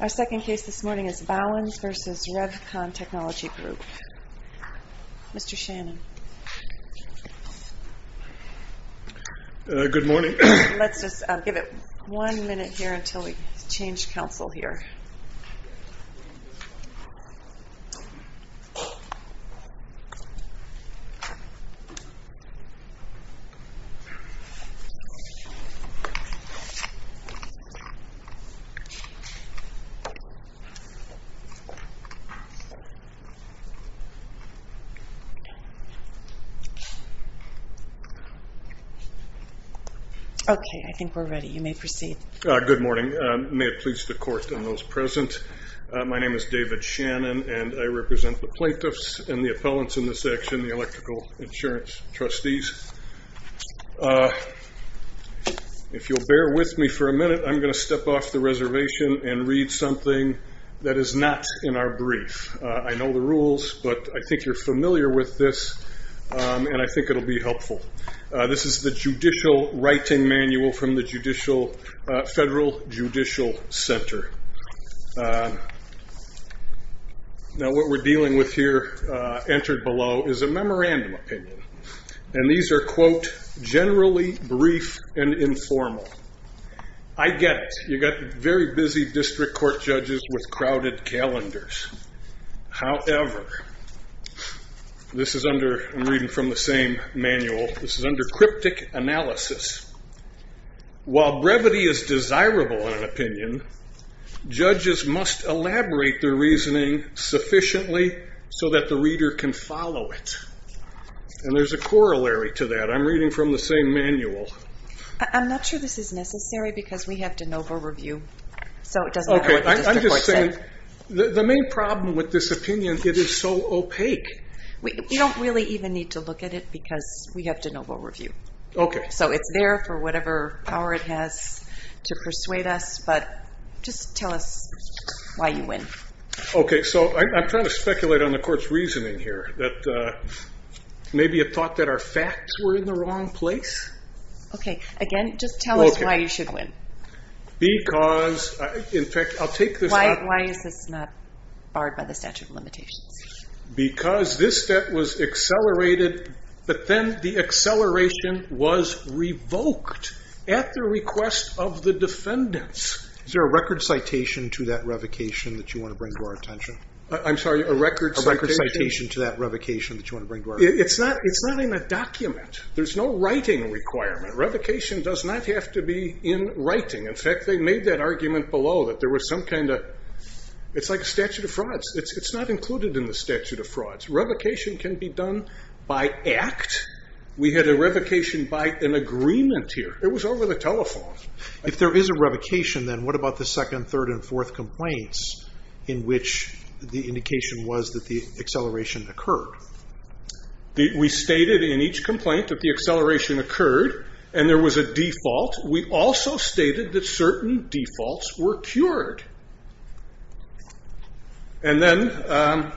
Our second case this morning is Bauwens v. Revcon Technology Group. Mr. Shannon. Good morning. Let's just give it one minute here until we change council here. Okay, I think we're ready. You may proceed. Good morning. May it please the court and those present, my name is David Shannon and I represent the plaintiffs and the appellants in this action, the electrical insurance trustees. If you'll bear with me for a minute, I'm going to step off the reservation and read something that is not in our brief. I know the rules, but I think you're familiar with this and I think it will be helpful. This is the judicial writing manual from the federal judicial center. Now what we're dealing with here, entered below, is a memorandum opinion. And these are, quote, generally brief and informal. I get it. You've got very busy district court judges with crowded calendars. However, this is under, I'm reading from the same manual, this is under cryptic analysis. While brevity is desirable in an opinion, judges must elaborate their reasoning sufficiently so that the reader can follow it. And there's a corollary to that. I'm reading from the same manual. I'm not sure this is necessary because we have de novo review. Okay, I'm just saying, the main problem with this opinion, it is so opaque. We don't really even need to look at it because we have de novo review. Okay. So it's there for whatever power it has to persuade us, but just tell us why you win. Okay, so I'm trying to speculate on the court's reasoning here, that maybe it thought that our facts were in the wrong place. Okay, again, just tell us why you should win. Because, in fact, I'll take this up. Because this step was accelerated, but then the acceleration was revoked at the request of the defendants. Is there a record citation to that revocation that you want to bring to our attention? I'm sorry, a record citation? A record citation to that revocation that you want to bring to our attention. It's not in a document. There's no writing requirement. Revocation does not have to be in writing. In fact, they made that argument below that there was some kind of, it's like a statute of frauds. It's not included in the statute of frauds. Revocation can be done by act. We had a revocation by an agreement here. It was over the telephone. If there is a revocation, then what about the second, third, and fourth complaints in which the indication was that the acceleration occurred? We stated in each complaint that the acceleration occurred and there was a default. We also stated that certain defaults were cured. Then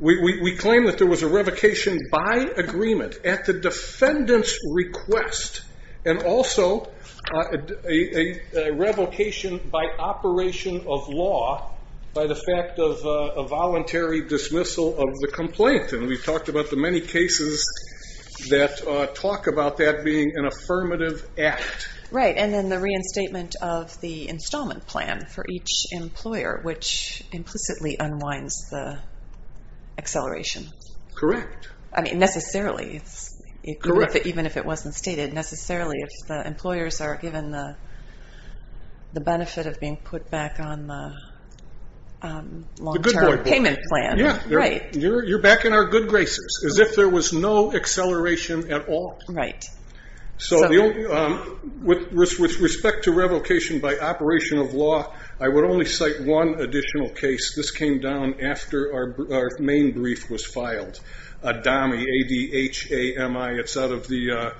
we claimed that there was a revocation by agreement at the defendant's request and also a revocation by operation of law by the fact of a voluntary dismissal of the complaint. We've talked about the many cases that talk about that being an affirmative act. Right, and then the reinstatement of the installment plan for each employer, which implicitly unwinds the acceleration. Correct. I mean, necessarily. Correct. Even if it wasn't stated, necessarily, if the employers are given the benefit of being put back on the long-term payment plan. You're back in our good graces, as if there was no acceleration at all. Right. With respect to revocation by operation of law, I would only cite one additional case. This came down after our main brief was filed, ADHAMI. It's out of the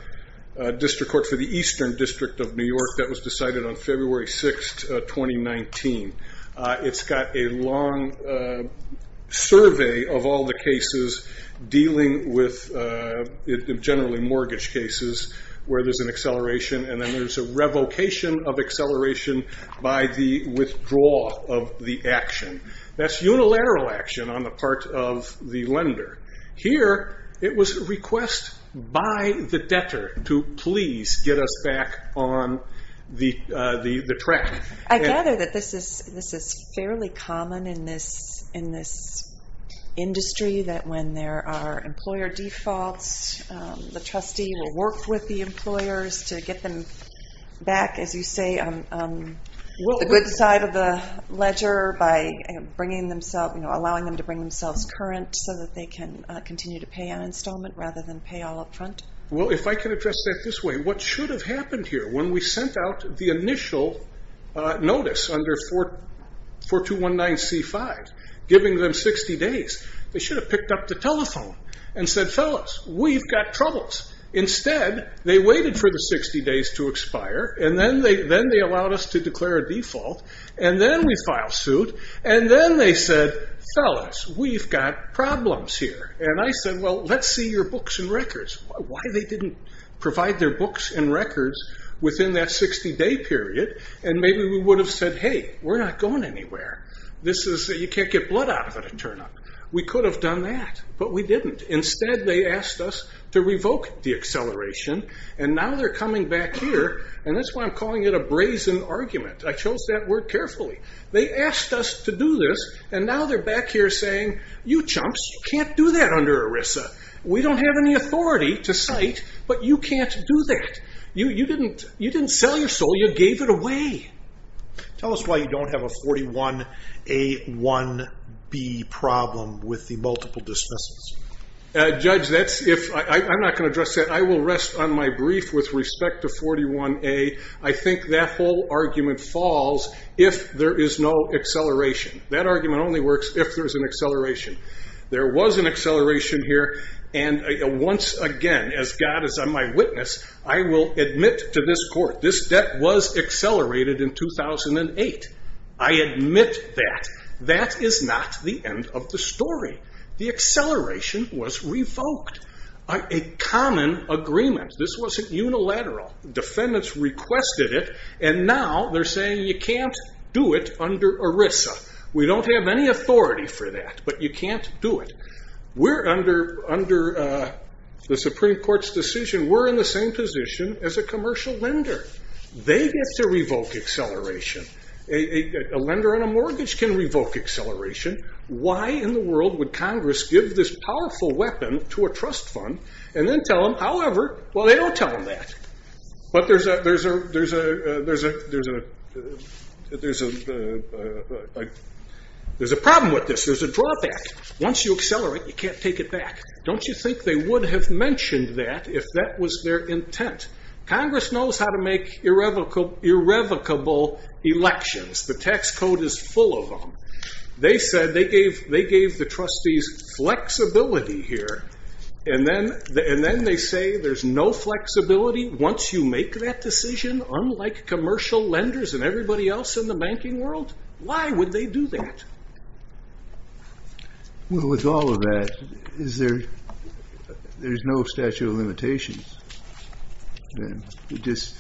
District Court for the Eastern District of New York. That was decided on February 6, 2019. It's got a long survey of all the cases dealing with generally mortgage cases where there's an acceleration, and then there's a revocation of acceleration by the withdrawal of the action. That's unilateral action on the part of the lender. Here, it was a request by the debtor to please get us back on the track. I gather that this is fairly common in this industry, that when there are employer defaults, the trustee will work with the employers to get them back, as you say, on the good side of the ledger by allowing them to bring themselves current so that they can continue to pay on installment rather than pay all up front. Well, if I can address that this way, what should have happened here? When we sent out the initial notice under 4219C5, giving them 60 days, they should have picked up the telephone and said, fellas, we've got troubles. Instead, they waited for the 60 days to expire, and then they allowed us to declare a default, and then we file suit, and then they said, fellas, we've got problems here. I said, well, let's see your books and records. Why they didn't provide their books and records within that 60-day period, and maybe we would have said, hey, we're not going anywhere. You can't get blood out of it and turn up. We could have done that, but we didn't. Instead, they asked us to revoke the acceleration, and now they're coming back here, and that's why I'm calling it a brazen argument. I chose that word carefully. They asked us to do this, and now they're back here saying, you chumps, you can't do that under ERISA. We don't have any authority to cite, but you can't do that. You didn't sell your soul. You gave it away. Tell us why you don't have a 41A1B problem with the multiple dismissals. Judge, I'm not going to address that. I will rest on my brief with respect to 41A. I think that whole argument falls if there is no acceleration. That argument only works if there's an acceleration. There was an acceleration here, and once again, as God is on my witness, I will admit to this court, this debt was accelerated in 2008. I admit that. That is not the end of the story. The acceleration was revoked. A common agreement. This wasn't unilateral. Defendants requested it, and now they're saying, you can't do it under ERISA. We don't have any authority for that, but you can't do it. Under the Supreme Court's decision, we're in the same position as a commercial lender. They get to revoke acceleration. A lender on a mortgage can revoke acceleration. Why in the world would Congress give this powerful weapon to a trust fund and then tell them, however, well, they don't tell them that. But there's a problem with this. There's a drawback. Once you accelerate, you can't take it back. Don't you think they would have mentioned that if that was their intent? Congress knows how to make irrevocable elections. The tax code is full of them. They gave the trustees flexibility here, and then they say there's no flexibility once you make that decision, unlike commercial lenders and everybody else in the banking world? Why would they do that? With all of that, there's no statute of limitations. It just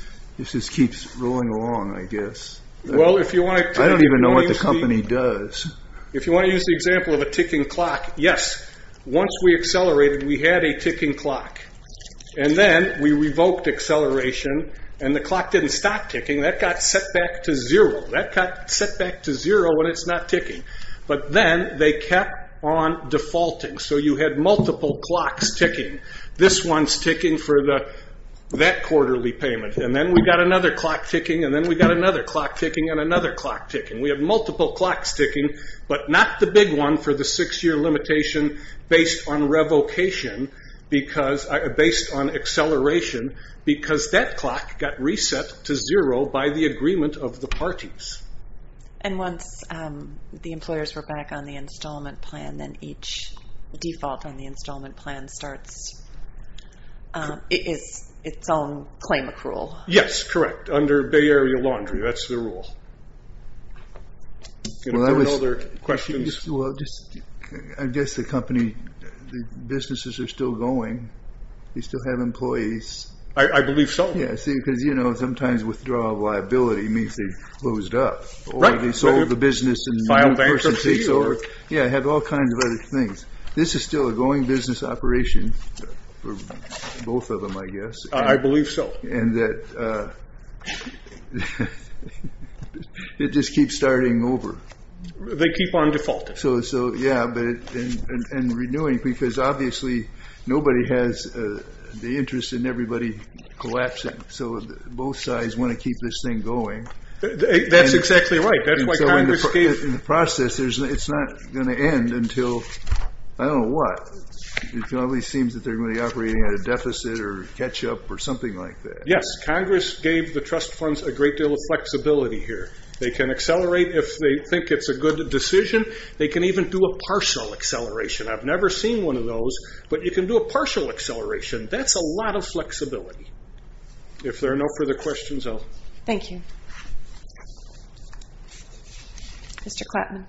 keeps rolling along, I guess. I don't even know what the company does. If you want to use the example of a ticking clock, yes, once we accelerated, we had a ticking clock. And then we revoked acceleration, and the clock didn't stop ticking. That got set back to zero. That got set back to zero, and it's not ticking. But then they kept on defaulting. So you had multiple clocks ticking. This one's ticking for that quarterly payment. And then we got another clock ticking, and then we got another clock ticking, and another clock ticking. We have multiple clocks ticking, but not the big one for the six-year limitation based on acceleration, because that clock got reset to zero by the agreement of the parties. And once the employers were back on the installment plan, then each default on the installment plan starts its own claim accrual. Yes, correct. Under Bay Area Laundry, that's the rule. Any other questions? I guess the company, the businesses are still going. They still have employees. I believe so. Yes, because, you know, sometimes withdrawal of liability means they've closed up, or they sold the business and the person takes over. Yeah, they have all kinds of other things. This is still a going business operation for both of them, I guess. I believe so. And that it just keeps starting over. They keep on defaulting. So, yeah, and renewing, because obviously nobody has the interest in everybody collapsing. So both sides want to keep this thing going. That's exactly right. That's why Congress gave the trust funds. In the process, it's not going to end until I don't know what. It probably seems that they're going to be operating at a deficit or catch up or something like that. Yes, Congress gave the trust funds a great deal of flexibility here. They can accelerate if they think it's a good decision. They can even do a partial acceleration. I've never seen one of those, but you can do a partial acceleration. That's a lot of flexibility. If there are no further questions, I'll. Thank you. Mr. Klapman.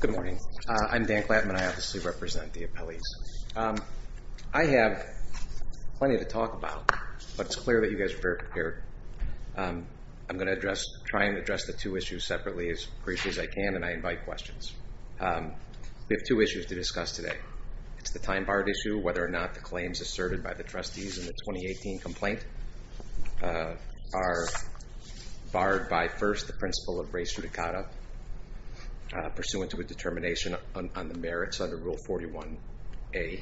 Good morning. I'm Dan Klapman. I obviously represent the appellees. I have plenty to talk about, but it's clear that you guys are very prepared. I'm going to try and address the two issues separately as briefly as I can, and I invite questions. We have two issues to discuss today. It's the time-barred issue, whether or not the claims asserted by the trustees in the 2018 complaint are barred by, first, the principle of res judicata pursuant to a determination on the merits under Rule 41A, and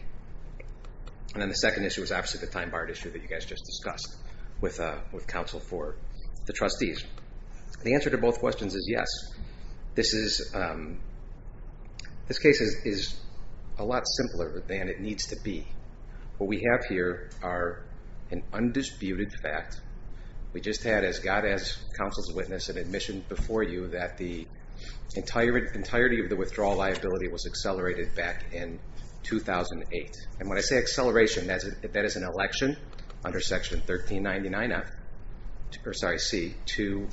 then the second issue is obviously the time-barred issue that you guys just discussed with counsel for the trustees. The answer to both questions is yes. This case is a lot simpler than it needs to be. What we have here are an undisputed fact. We just had, as God has counsel's witness and admission before you, that the entirety of the withdrawal liability was accelerated back in 2008. And when I say acceleration, that is an election under Section 1399C to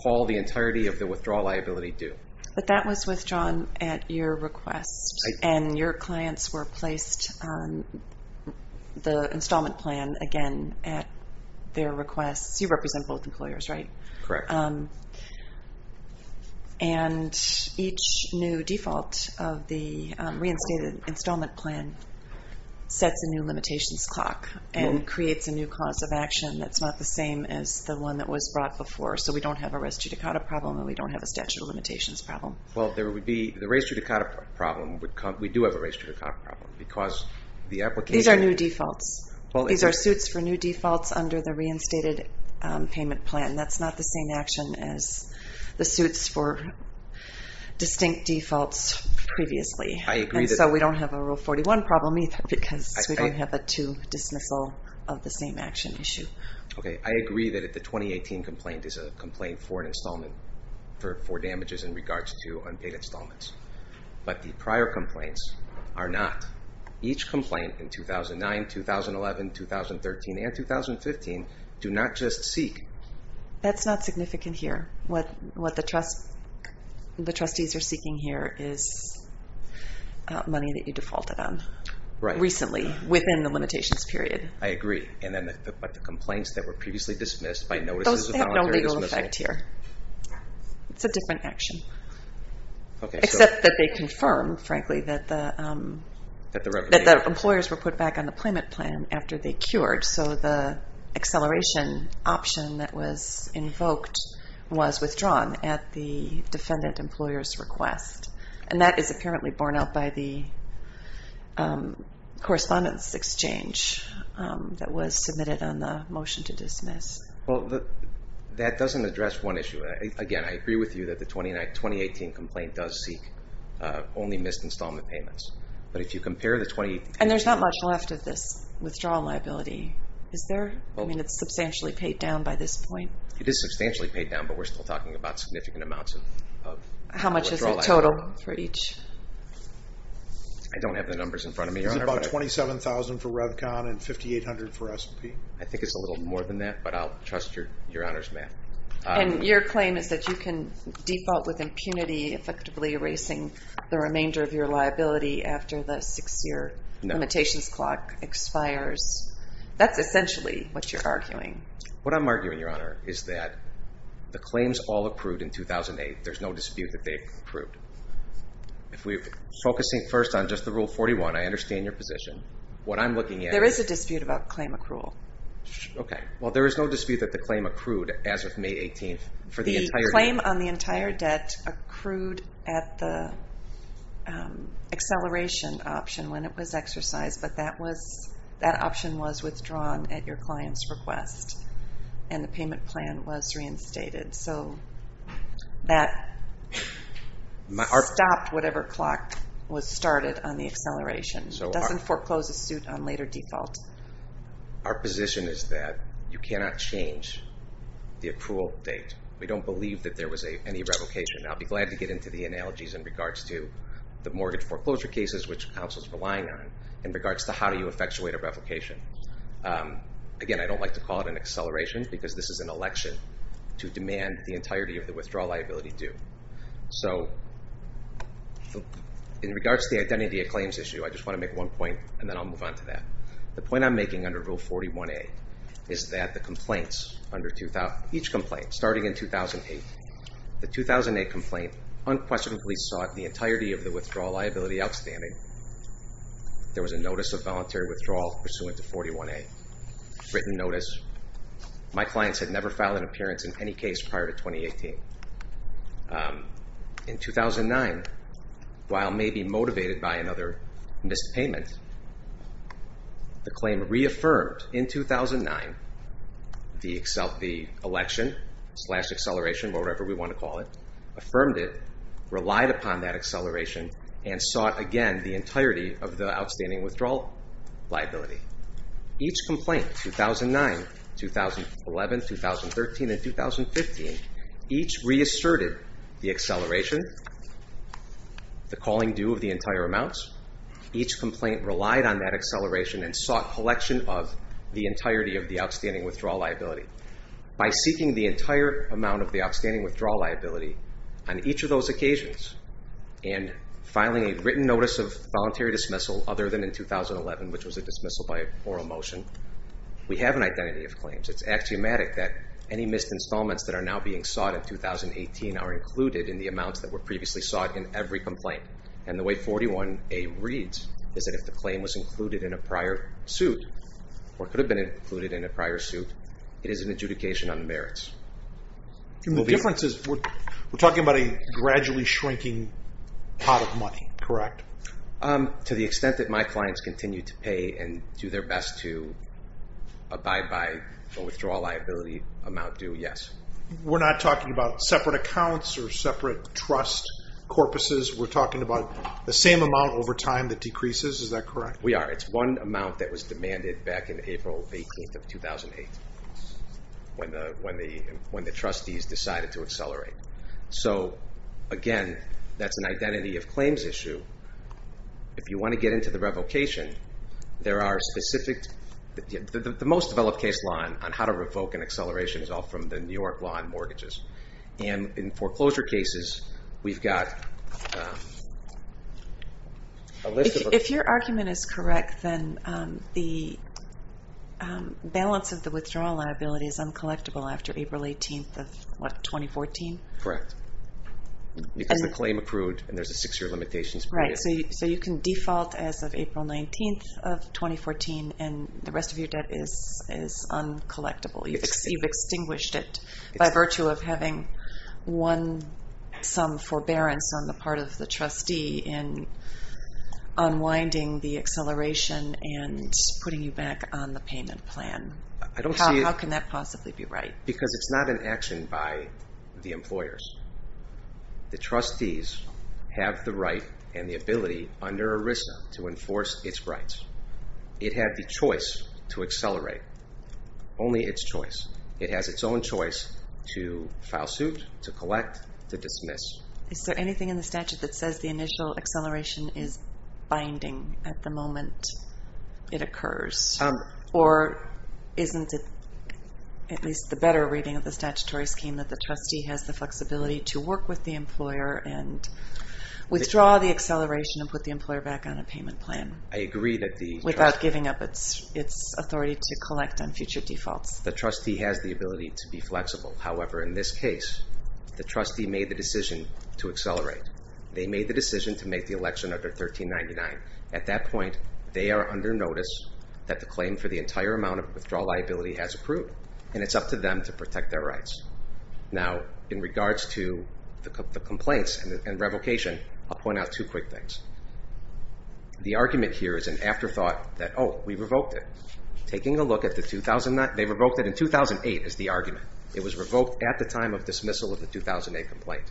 call the entirety of the withdrawal liability due. But that was withdrawn at your request, and your clients were placed on the installment plan again at their request. You represent both employers, right? Correct. And each new default of the reinstated installment plan sets a new limitations clock and creates a new cause of action that's not the same as the one that was brought before, so we don't have a res judicata problem and we don't have a statute of limitations problem. Well, there would be the res judicata problem. We do have a res judicata problem because the application These are new defaults. These are suits for new defaults under the reinstated payment plan. That's not the same action as the suits for distinct defaults previously. I agree that And so we don't have a Rule 41 problem either because we don't have a two dismissal of the same action issue. Okay, I agree that the 2018 complaint is a complaint for an installment for damages in regards to unpaid installments, but the prior complaints are not. Each complaint in 2009, 2011, 2013, and 2015 do not just seek That's not significant here. What the trustees are seeking here is money that you defaulted on recently within the limitations period. I agree. But the complaints that were previously dismissed by notices of voluntary dismissal Those have no legal effect here. It's a different action. Except that they confirm, frankly, that the employers were put back on the payment plan after they cured, so the acceleration option that was invoked was withdrawn at the defendant employer's request. And that is apparently borne out by the correspondence exchange that was submitted on the motion to dismiss. Well, that doesn't address one issue. Again, I agree with you that the 2018 complaint does seek only missed installment payments. But if you compare the 2018 And there's not much left of this withdrawal liability. Is there? I mean, it's substantially paid down by this point. It is substantially paid down, but we're still talking about significant amounts of withdrawal liability. What's the total for each? I don't have the numbers in front of me, Your Honor. It's about $27,000 for Revcon and $5,800 for S&P. I think it's a little more than that, but I'll trust Your Honor's math. And your claim is that you can default with impunity, effectively erasing the remainder of your liability after the six-year limitations clock expires. That's essentially what you're arguing. What I'm arguing, Your Honor, is that the claims all approved in 2008. There's no dispute that they've approved. If we're focusing first on just the Rule 41, I understand your position. What I'm looking at is... There is a dispute about claim accrual. Okay. Well, there is no dispute that the claim accrued as of May 18th. The claim on the entire debt accrued at the acceleration option when it was exercised, but that option was withdrawn at your client's request, and the payment plan was reinstated. So that stopped whatever clock was started on the acceleration. It doesn't foreclose a suit on later default. Our position is that you cannot change the accrual date. We don't believe that there was any revocation. I'll be glad to get into the analogies in regards to the mortgage foreclosure cases, which counsel is relying on, in regards to how do you effectuate a revocation. Again, I don't like to call it an acceleration, because this is an election to demand the entirety of the withdrawal liability due. So in regards to the identity of claims issue, I just want to make one point, and then I'll move on to that. The point I'm making under Rule 41A is that the complaints under each complaint starting in 2008, the 2008 complaint unquestionably sought the entirety of the withdrawal liability outstanding. There was a notice of voluntary withdrawal pursuant to 41A, written notice. My clients had never filed an appearance in any case prior to 2018. In 2009, while maybe motivated by another missed payment, the claim reaffirmed in 2009. The election slash acceleration, whatever we want to call it, affirmed it, relied upon that acceleration, and sought again the entirety of the outstanding withdrawal liability. Each complaint, 2009, 2011, 2013, and 2015, each reasserted the acceleration, the calling due of the entire amounts. Each complaint relied on that acceleration and sought collection of the entirety of the outstanding withdrawal liability. By seeking the entire amount of the outstanding withdrawal liability on each of those occasions and filing a written notice of voluntary dismissal other than in 2011, which was a dismissal by oral motion, we have an identity of claims. It's axiomatic that any missed installments that are now being sought in 2018 are included in the amounts that were previously sought in every complaint. And the way 41A reads is that if the claim was included in a prior suit or could have been included in a prior suit, it is an adjudication on merits. The difference is we're talking about a gradually shrinking pot of money, correct? To the extent that my clients continue to pay and do their best to abide by a withdrawal liability amount due, yes. We're not talking about separate accounts or separate trust corpuses. We're talking about the same amount over time that decreases, is that correct? We are. It's one amount that was demanded back in April 18th of 2008 when the trustees decided to accelerate. So again, that's an identity of claims issue. If you want to get into the revocation, there are specific, the most developed case law on how to revoke an acceleration is all from the New York law on mortgages. And in foreclosure cases, we've got a list of... The withdrawal liability is uncollectible after April 18th of what, 2014? Correct. Because the claim approved and there's a six-year limitations period. Right. So you can default as of April 19th of 2014 and the rest of your debt is uncollectible. You've extinguished it by virtue of having won some forbearance on the part of the trustee in unwinding the acceleration and putting you back on the payment plan. How can that possibly be right? Because it's not an action by the employers. The trustees have the right and the ability under ERISA to enforce its rights. It had the choice to accelerate, only its choice. It has its own choice to file suit, to collect, to dismiss. Is there anything in the statute that says the initial acceleration is binding at the moment it occurs? Or isn't it, at least the better reading of the statutory scheme, that the trustee has the flexibility to work with the employer and withdraw the acceleration and put the employer back on a payment plan? I agree that the... Without giving up its authority to collect on future defaults. The trustee has the ability to be flexible. However, in this case, the trustee made the decision to accelerate. They made the decision to make the election under 1399. At that point, they are under notice that the claim for the entire amount of withdrawal liability has approved. And it's up to them to protect their rights. Now, in regards to the complaints and revocation, I'll point out two quick things. The argument here is an afterthought that, oh, we revoked it. Taking a look at the 2009... They revoked it in 2008 is the argument. It was revoked at the time of dismissal of the 2008 complaint.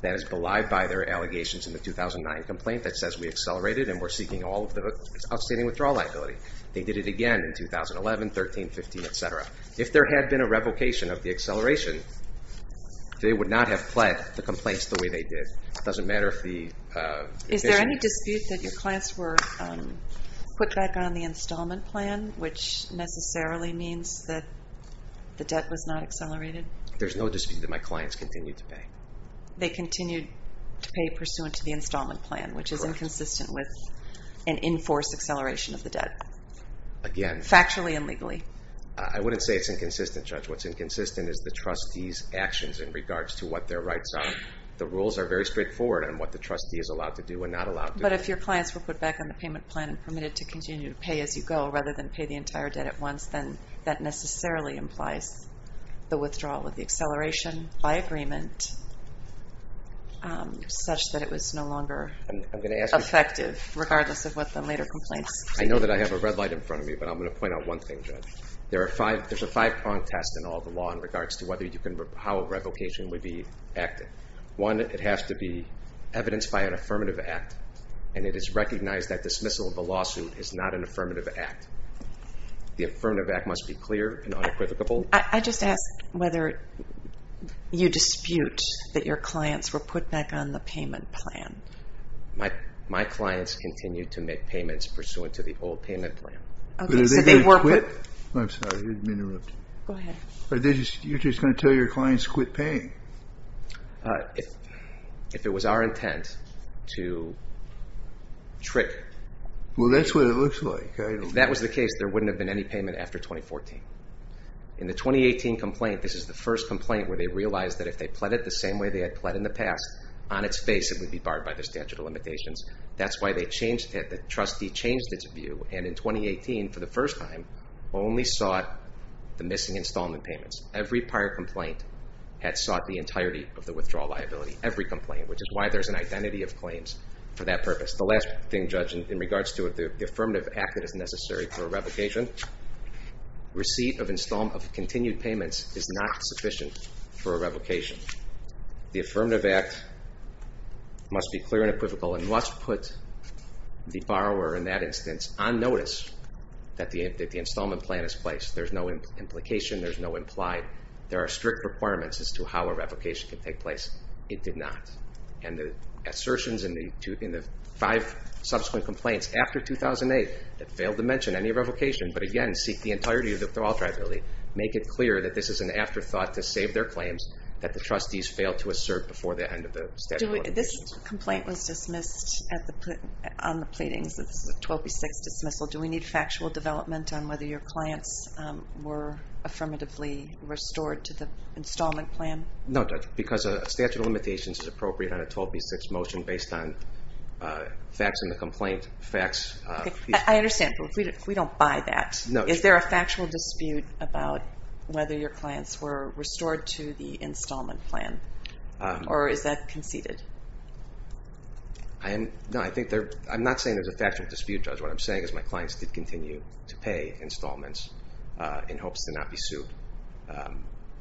That is belied by their allegations in the 2009 complaint that says we accelerated and we're seeking all of the outstanding withdrawal liability. They did it again in 2011, 13, 15, et cetera. If there had been a revocation of the acceleration, they would not have pled the complaints the way they did. It doesn't matter if the... Is there any dispute that your clients were put back on the installment plan, which necessarily means that the debt was not accelerated? There's no dispute that my clients continued to pay. They continued to pay pursuant to the installment plan, which is inconsistent with an in-force acceleration of the debt. Again... Factually and legally. I wouldn't say it's inconsistent, Judge. What's inconsistent is the trustee's actions in regards to what their rights are. The rules are very straightforward on what the trustee is allowed to do and not allowed to do. But if your clients were put back on the payment plan and permitted to continue to pay as you go rather than pay the entire debt at once, then that necessarily implies the withdrawal of the acceleration by agreement, such that it was no longer effective, regardless of what the later complaints... I know that I have a red light in front of me, but I'm going to point out one thing, Judge. There's a five-prong test in all the law in regards to how a revocation would be acted. One, it has to be evidenced by an affirmative act, and it is recognized that dismissal of a lawsuit is not an affirmative act. The affirmative act must be clear and unequivocal. I just ask whether you dispute that your clients were put back on the payment plan. My clients continue to make payments pursuant to the old payment plan. But are they going to quit? I'm sorry, I didn't mean to interrupt. Go ahead. You're just going to tell your clients to quit paying? If it was our intent to trick... Well, that's what it looks like. If that was the case, there wouldn't have been any payment after 2014. In the 2018 complaint, this is the first complaint where they realized that if they pled it the same way they had pled in the past, on its face it would be barred by the statute of limitations. That's why they changed it, the trustee changed its view, and in 2018, for the first time, only sought the missing installment payments. Every prior complaint had sought the entirety of the withdrawal liability, every complaint, which is why there's an identity of claims for that purpose. The last thing, Judge, in regards to the affirmative act that is necessary for a revocation, receipt of continued payments is not sufficient for a revocation. The affirmative act must be clear and equivocal and must put the borrower in that instance on notice that the installment plan is placed. There's no implication, there's no implied, there are strict requirements as to how a revocation can take place. It did not. And the assertions in the five subsequent complaints after 2008 that failed to mention any revocation, but again seek the entirety of the withdrawal liability, make it clear that this is an afterthought to save their claims that the trustees failed to assert before the end of the statute of limitations. This complaint was dismissed on the pleadings. This is a 12B6 dismissal. Do we need factual development on whether your clients were affirmatively restored to the installment plan? No, Judge, because a statute of limitations is appropriate on a 12B6 motion based on facts in the complaint. I understand, but if we don't buy that, is there a factual dispute about whether your clients were restored to the installment plan, or is that conceded? No, I'm not saying there's a factual dispute, Judge. What I'm saying is my clients did continue to pay installments in hopes to not be sued.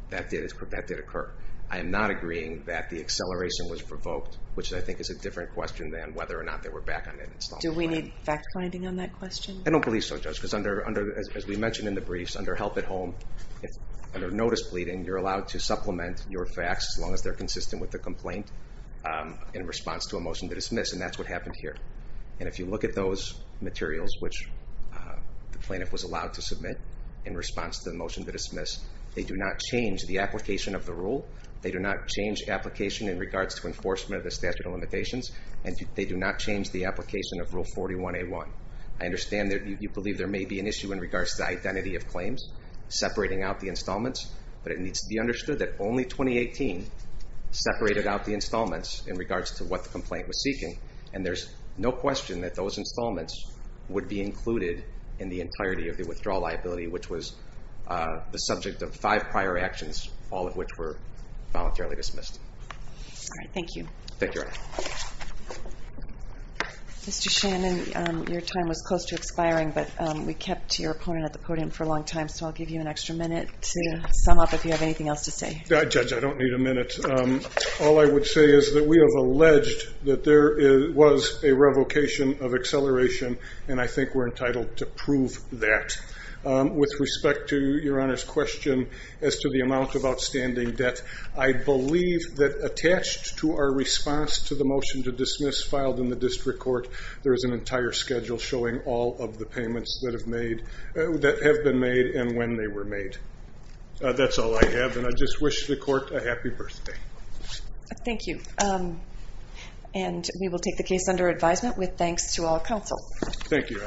That did occur. I am not agreeing that the acceleration was provoked, which I think is a different question than whether or not they were back on the installment plan. Do we need fact-finding on that question? I don't believe so, Judge, because as we mentioned in the briefs, under help at home, under notice pleading, you're allowed to supplement your facts as long as they're consistent with the complaint in response to a motion to dismiss, and that's what happened here. And if you look at those materials which the plaintiff was allowed to submit in response to the motion to dismiss, they do not change the application of the rule, they do not change the application in regards to enforcement of the statute of limitations, and they do not change the application of Rule 41A1. I understand that you believe there may be an issue in regards to the identity of claims separating out the installments, but it needs to be understood that only 2018 separated out the installments in regards to what the complaint was seeking, and there's no question that those installments would be included in the entirety of the withdrawal liability, which was the subject of five prior actions, all of which were voluntarily dismissed. All right, thank you. Thank you. Mr. Shannon, your time was close to expiring, but we kept your opponent at the podium for a long time, so I'll give you an extra minute to sum up if you have anything else to say. Judge, I don't need a minute. All I would say is that we have alleged that there was a revocation of acceleration, and I think we're entitled to prove that. With respect to Your Honor's question as to the amount of outstanding debt, I believe that attached to our response to the motion to dismiss filed in the district court, there is an entire schedule showing all of the payments that have been made and when they were made. That's all I have, and I just wish the court a happy birthday. Thank you. And we will take the case under advisement with thanks to all counsel. Thank you.